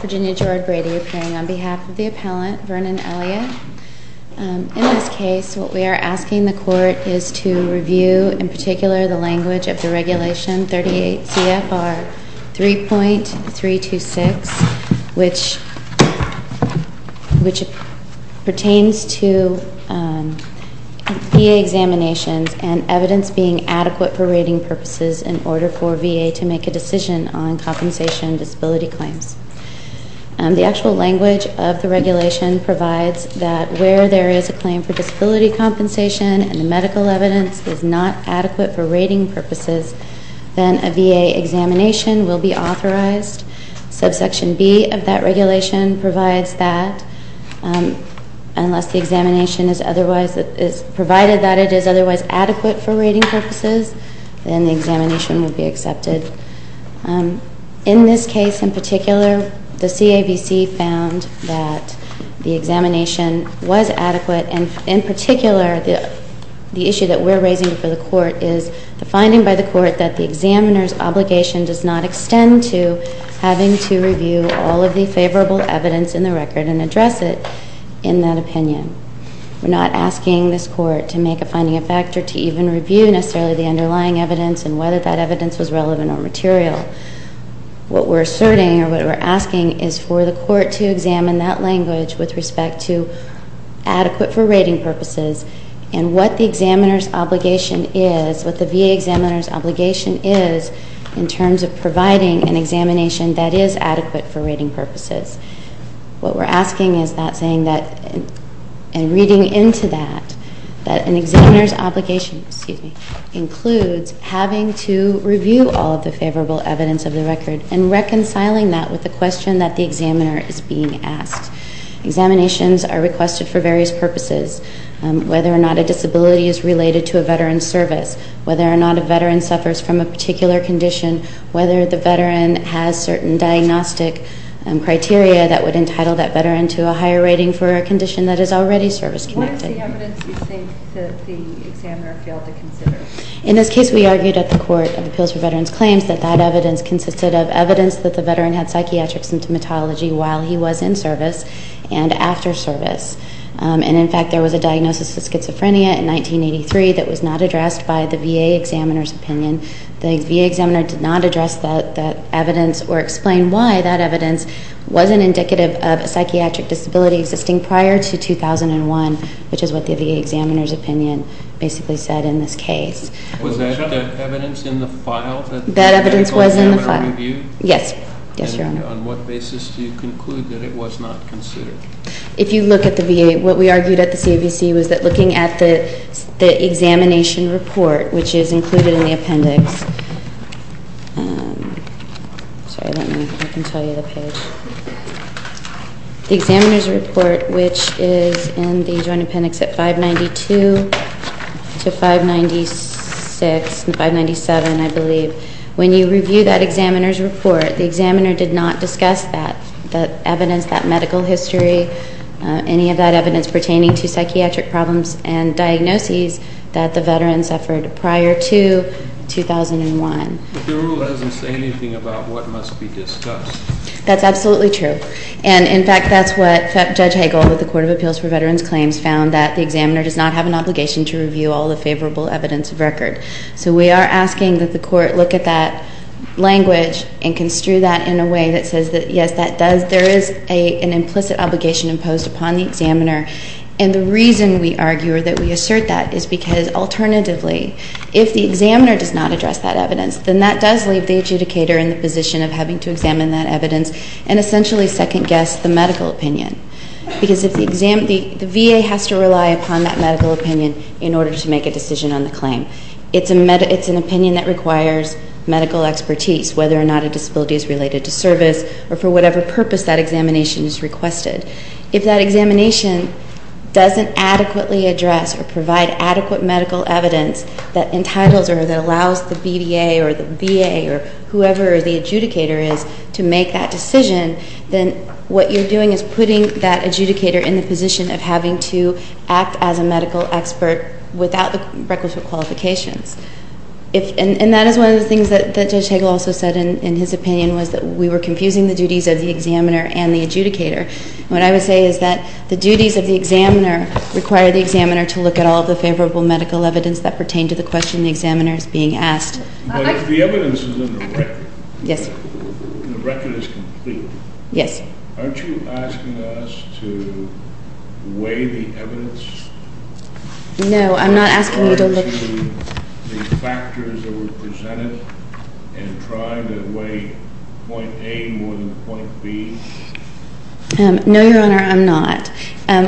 Virginia George Brady appearing on behalf of the appellant, Vernon Elliott. In this case what we are asking the court is to review in particular the language of the regulation 38 CFR 3.326, which pertains to VA examinations and evidence being adequate for rating purposes in order for VA to make a decision on compensation disability claims. The actual language of the regulation provides that where there is a claim for disability compensation and medical evidence is not adequate for rating purposes, then a VA examination will be authorized. Subsection B of that regulation provides that unless the examination is provided that it is otherwise adequate for rating purposes, then the examination will be accepted. In this case in particular the CAVC found that the examination was adequate and in particular the issue that we are raising for the court is the finding by the court that the examiner's obligation does not extend to having to review all of the favorable evidence in the record and address it in that opinion. We are not asking this court to make a finding of fact or to even review necessarily the underlying evidence and whether that evidence was relevant or material. What we are asserting or what we are asking is for the court to examine that language with respect to adequate for rating purposes and what the examiner's obligation is, what the VA examiner's obligation is in terms of providing an examination that is adequate for rating purposes. What we are asking is that saying that and reading into that, that an examiner's obligation includes having to review all of the favorable evidence of the record and reconciling that with the question that the examiner is being asked. Examinations are requested for various purposes, whether or not a disability is related to a veteran's service, whether or not a veteran suffers from a particular condition, whether the veteran has certain diagnostic criteria that would entitle that veteran to a higher rating for a condition that is already service-connected. What is the evidence you think that the examiner failed to consider? In this case, we argued at the Court of Appeals for Veterans Claims that that evidence consisted of evidence that the veteran had psychiatric symptomatology while he was in service and after service. In fact, there was a diagnosis of schizophrenia in 1983 that was not addressed by the VA examiner's opinion. The VA examiner did not address that evidence or explain why that evidence wasn't indicative of a psychiatric disability existing prior to 2001, which is what the VA examiner's opinion basically said in this case. Was that evidence in the file? That evidence was in the file. Yes. Yes, Your Honor. And on what basis do you conclude that it was not considered? If you look at the VA, what we argued at the CAVC was that looking at the examination report, which is included in the appendix. Sorry, let me, I can tell you the page. The examiner's report, which is in the Joint Appendix at 592 to 596 and 597, I believe. When you review that examiner's report, the examiner did not discuss that evidence, that medical history, any of that evidence pertaining to psychiatric problems and diagnoses that the veteran suffered prior to 2001. But the rule doesn't say anything about what must be discussed. That's absolutely true. And, in fact, that's what Judge Hagel with the Court of Appeals for Veterans Claims found, that the examiner does not have an obligation to review all the favorable evidence of record. So we are asking that the Court look at that language and construe that in a way that says that, yes, that does, there is an implicit obligation imposed upon the examiner. And the reason we argue or that we assert that is because, alternatively, if the examiner does not address that evidence, then that does leave the adjudicator in the position of having to examine that evidence and essentially second-guess the medical opinion. Because the VA has to rely upon that medical opinion in order to make a decision on the claim. It's an opinion that requires medical expertise, whether or not a disability is related to service, or for whatever purpose that examination is requested. If that examination doesn't adequately address or provide adequate medical evidence that entitles or that allows the BVA or the VA or whoever the adjudicator is to make that decision, then what you're doing is putting that adjudicator in the position of having to act as a medical expert without the requisite qualifications. And that is one of the things that Judge Hagel also said in his opinion, was that we were confusing the duties of the examiner and the adjudicator. What I would say is that the duties of the examiner require the examiner to look at all of the favorable medical evidence that pertain to the question the examiner is being asked. But if the evidence is in the record, and the record is complete, aren't you asking us to weigh the evidence? No, I'm not asking you to look. Are you considering the factors that were presented and trying to weigh point A more than point B? No, Your Honor, I'm not.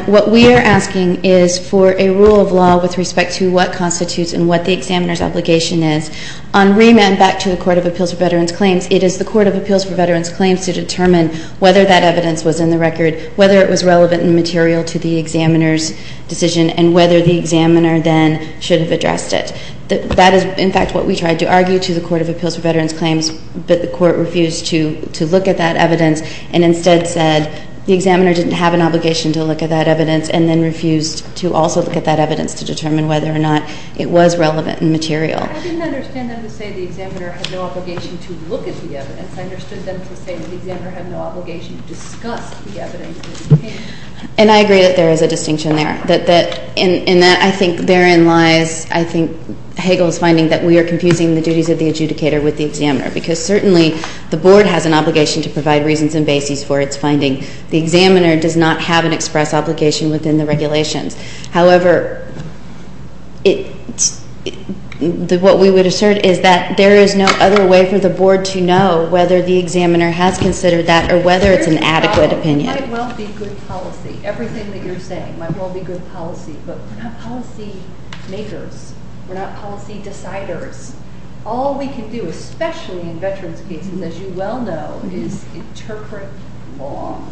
What we are asking is for a rule of law with respect to what constitutes and what the examiner's obligation is. On remand, back to the Court of Appeals for Veterans Claims, it is the Court of Appeals for Veterans Claims to determine whether that evidence was in the record, whether it was relevant and material to the examiner's decision, and whether the examiner then should have addressed it. That is, in fact, what we tried to argue to the Court of Appeals for Veterans Claims, but the Court refused to look at that evidence and instead said the examiner didn't have an obligation to look at that evidence and then refused to also look at that evidence to determine whether or not it was relevant and material. I didn't understand them to say the examiner had no obligation to look at the evidence. I understood them to say the examiner had no obligation to discuss the evidence. And I agree that there is a distinction there. In that I think therein lies, I think, Hagel's finding that we are confusing the duties of the adjudicator with the examiner because certainly the Board has an obligation to provide reasons and basis for its finding. The examiner does not have an express obligation within the regulations. However, what we would assert is that there is no other way for the Board to know whether the examiner has considered that or whether it's an adequate opinion. It might well be good policy. Everything that you're saying might well be good policy, but we're not policy makers. We're not policy deciders. All we can do, especially in veterans' cases, as you well know, is interpret law.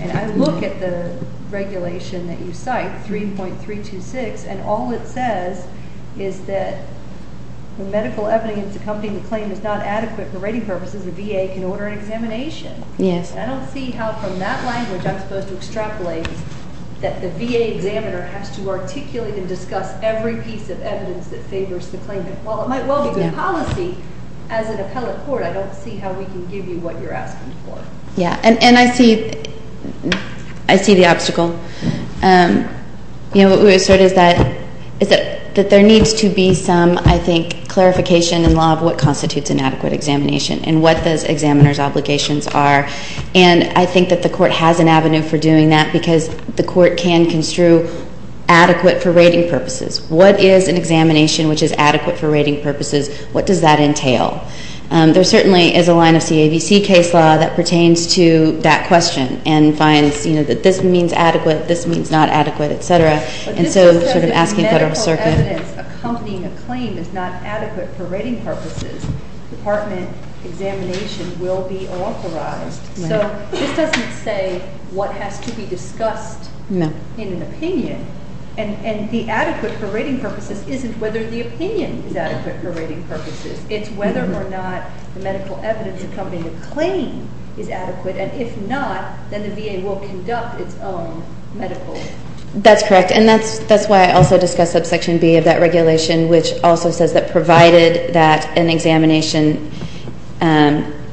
And I look at the regulation that you cite, 3.326, and all it says is that when medical evidence accompanying the claim is not adequate for rating purposes, the VA can order an examination. Yes. I don't see how from that language I'm supposed to extrapolate that the VA examiner has to articulate and discuss every piece of evidence that favors the claim. While it might well be good policy, as an appellate court, I don't see how we can give you what you're asking for. Yeah. And I see the obstacle. You know, what we would assert is that there needs to be some, I think, clarification in law of what constitutes an adequate examination and what those examiner's obligations are. And I think that the Court has an avenue for doing that because the Court can construe adequate for rating purposes. What is an examination which is adequate for rating purposes? What does that entail? There certainly is a line of CAVC case law that pertains to that question and finds, you know, that this means adequate, this means not adequate, et cetera. And so sort of asking Federal Circuit. But this doesn't say that medical evidence accompanying a claim is not adequate for rating purposes. Department examination will be authorized. So this doesn't say what has to be discussed in an opinion. And the adequate for rating purposes isn't whether the opinion is adequate for rating purposes. It's whether or not the medical evidence accompanying a claim is adequate. And if not, then the VA will conduct its own medical. That's correct. And that's why I also discussed subsection B of that regulation, which also says that provided that an examination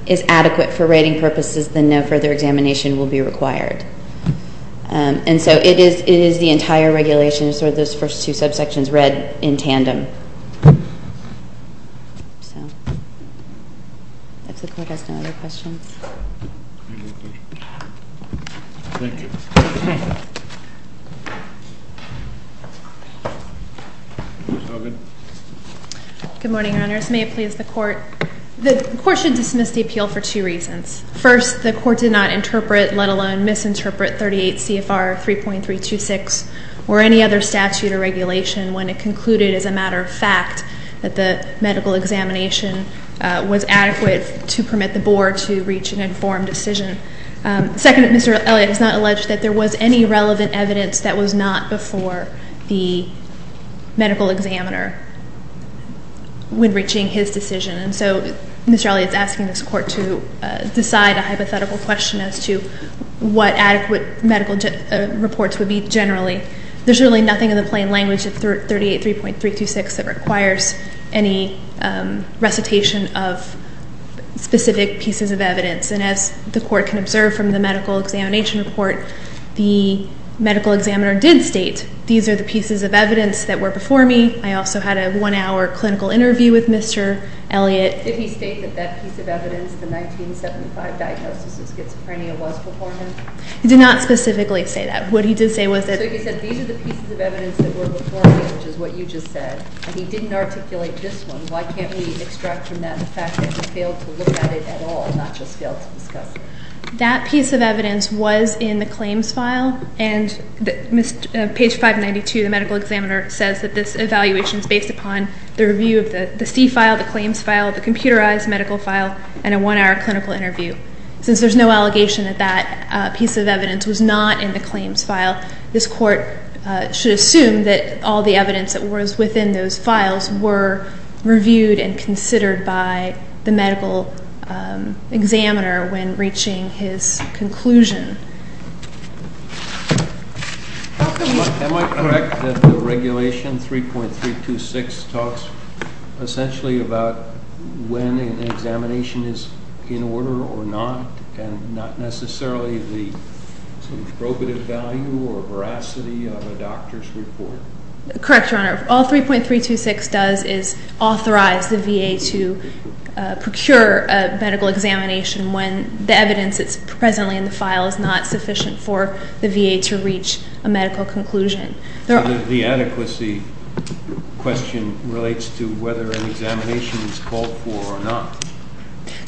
is adequate for rating purposes, then no further examination will be required. And so it is the entire regulation. It's sort of those first two subsections read in tandem. So if the Court has no other questions. Thank you. Thank you. Ms. Hogan. Good morning, Your Honors. May it please the Court. The Court should dismiss the appeal for two reasons. First, the Court did not interpret, let alone misinterpret, 38 CFR 3.326 or any other statute or regulation when it concluded, as a matter of fact, that the medical examination was adequate to permit the Board to reach an informed decision. Second, Mr. Elliott has not alleged that there was any relevant evidence that was not before the medical examiner when reaching his decision. And so Mr. Elliott is asking this Court to decide a hypothetical question as to what adequate medical reports would be generally. There's really nothing in the plain language of 38 CFR 3.326 that requires any recitation of specific pieces of evidence. And as the Court can observe from the medical examination report, the medical examiner did state, these are the pieces of evidence that were before me. I also had a one-hour clinical interview with Mr. Elliott. Did he state that that piece of evidence, the 1975 diagnosis of schizophrenia, was before him? He did not specifically say that. What he did say was that he said, these are the pieces of evidence that were before me, which is what you just said, and he didn't articulate this one. Why can't we extract from that the fact that he failed to look at it at all, not just failed to discuss it? That piece of evidence was in the claims file, and page 592, the medical examiner says that this evaluation is based upon the review of the C file, the claims file, the computerized medical file, and a one-hour clinical interview. Since there's no allegation that that piece of evidence was not in the claims file, this Court should assume that all the evidence that was within those files were reviewed and considered by the medical examiner when reaching his conclusion. Am I correct that the regulation 3.326 talks essentially about when an examination is in order or not, and not necessarily the probative value or veracity of a doctor's report? Correct, Your Honor. All 3.326 does is authorize the VA to procure a medical examination when the evidence that's presently in the file is not sufficient for the VA to reach a medical conclusion. So the adequacy question relates to whether an examination is called for or not?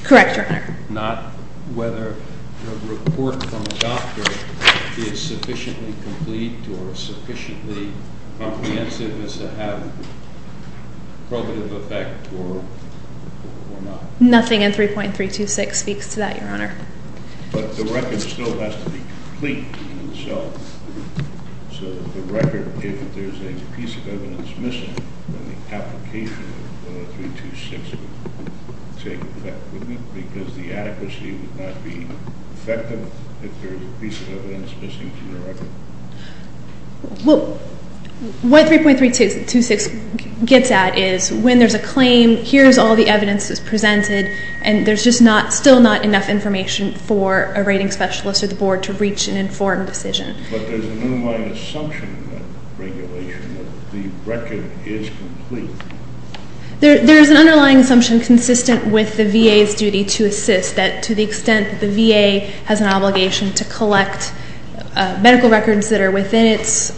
Correct, Your Honor. Not whether a report from a doctor is sufficiently complete or sufficiently comprehensive as to have probative effect or not? Nothing in 3.326 speaks to that, Your Honor. But the record still has to be complete, and so the record, if there's a piece of evidence missing, then the application of 3.326 would take effect, wouldn't it? Because the adequacy would not be effective if there's a piece of evidence missing from the record? Well, what 3.326 gets at is when there's a claim, here's all the evidence that's presented, and there's just still not enough information for a rating specialist or the board to reach an informed decision. But there's an underlying assumption in that regulation that the record is complete. There's an underlying assumption consistent with the VA's duty to assist, that to the extent that the VA has an obligation to collect medical records that are within its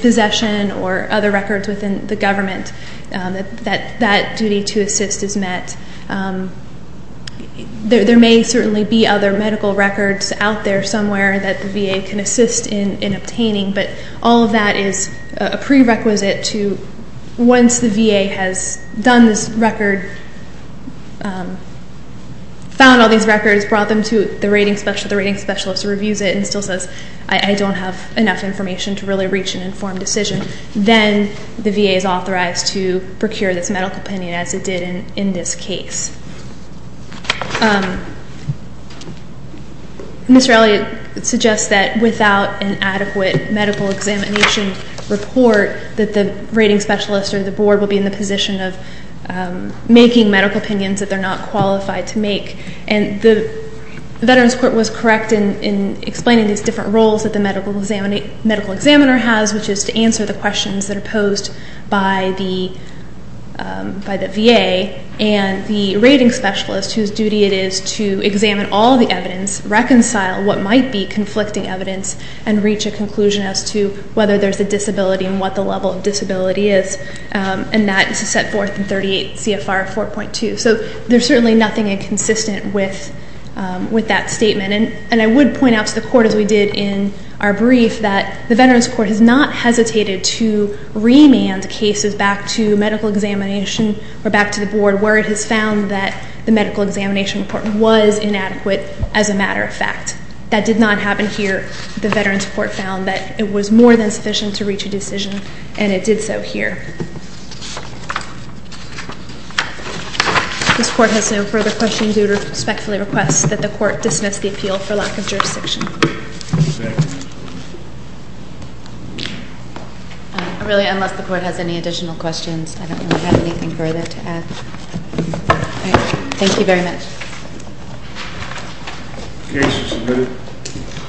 possession or other records within the government, that that duty to assist is met. There may certainly be other medical records out there somewhere that the VA can assist in obtaining, but all of that is a prerequisite to once the VA has done this record, found all these records, brought them to the rating specialist, the rating specialist reviews it and still says, I don't have enough information to really reach an informed decision. Then the VA is authorized to procure this medical opinion as it did in this case. Ms. Rowley suggests that without an adequate medical examination report that the rating specialist or the board will be in the position of making medical opinions that they're not qualified to make. And the Veterans Court was correct in explaining these different roles that the medical examiner has, which is to answer the questions that are posed by the VA. And the rating specialist, whose duty it is to examine all the evidence, reconcile what might be conflicting evidence, and reach a conclusion as to whether there's a disability and what the level of disability is. And that is to set forth in 38 CFR 4.2. So there's certainly nothing inconsistent with that statement. And I would point out to the court, as we did in our brief, that the Veterans Court has not hesitated to remand cases back to medical examination or back to the board where it has found that the medical examination report was inadequate as a matter of fact. That did not happen here. The Veterans Court found that it was more than sufficient to reach a decision, and it did so here. This court has no further questions. I respectfully request that the court dismiss the appeal for lack of jurisdiction. Thank you. Really, unless the court has any additional questions, I don't have anything further to add. Thank you very much. The case is submitted.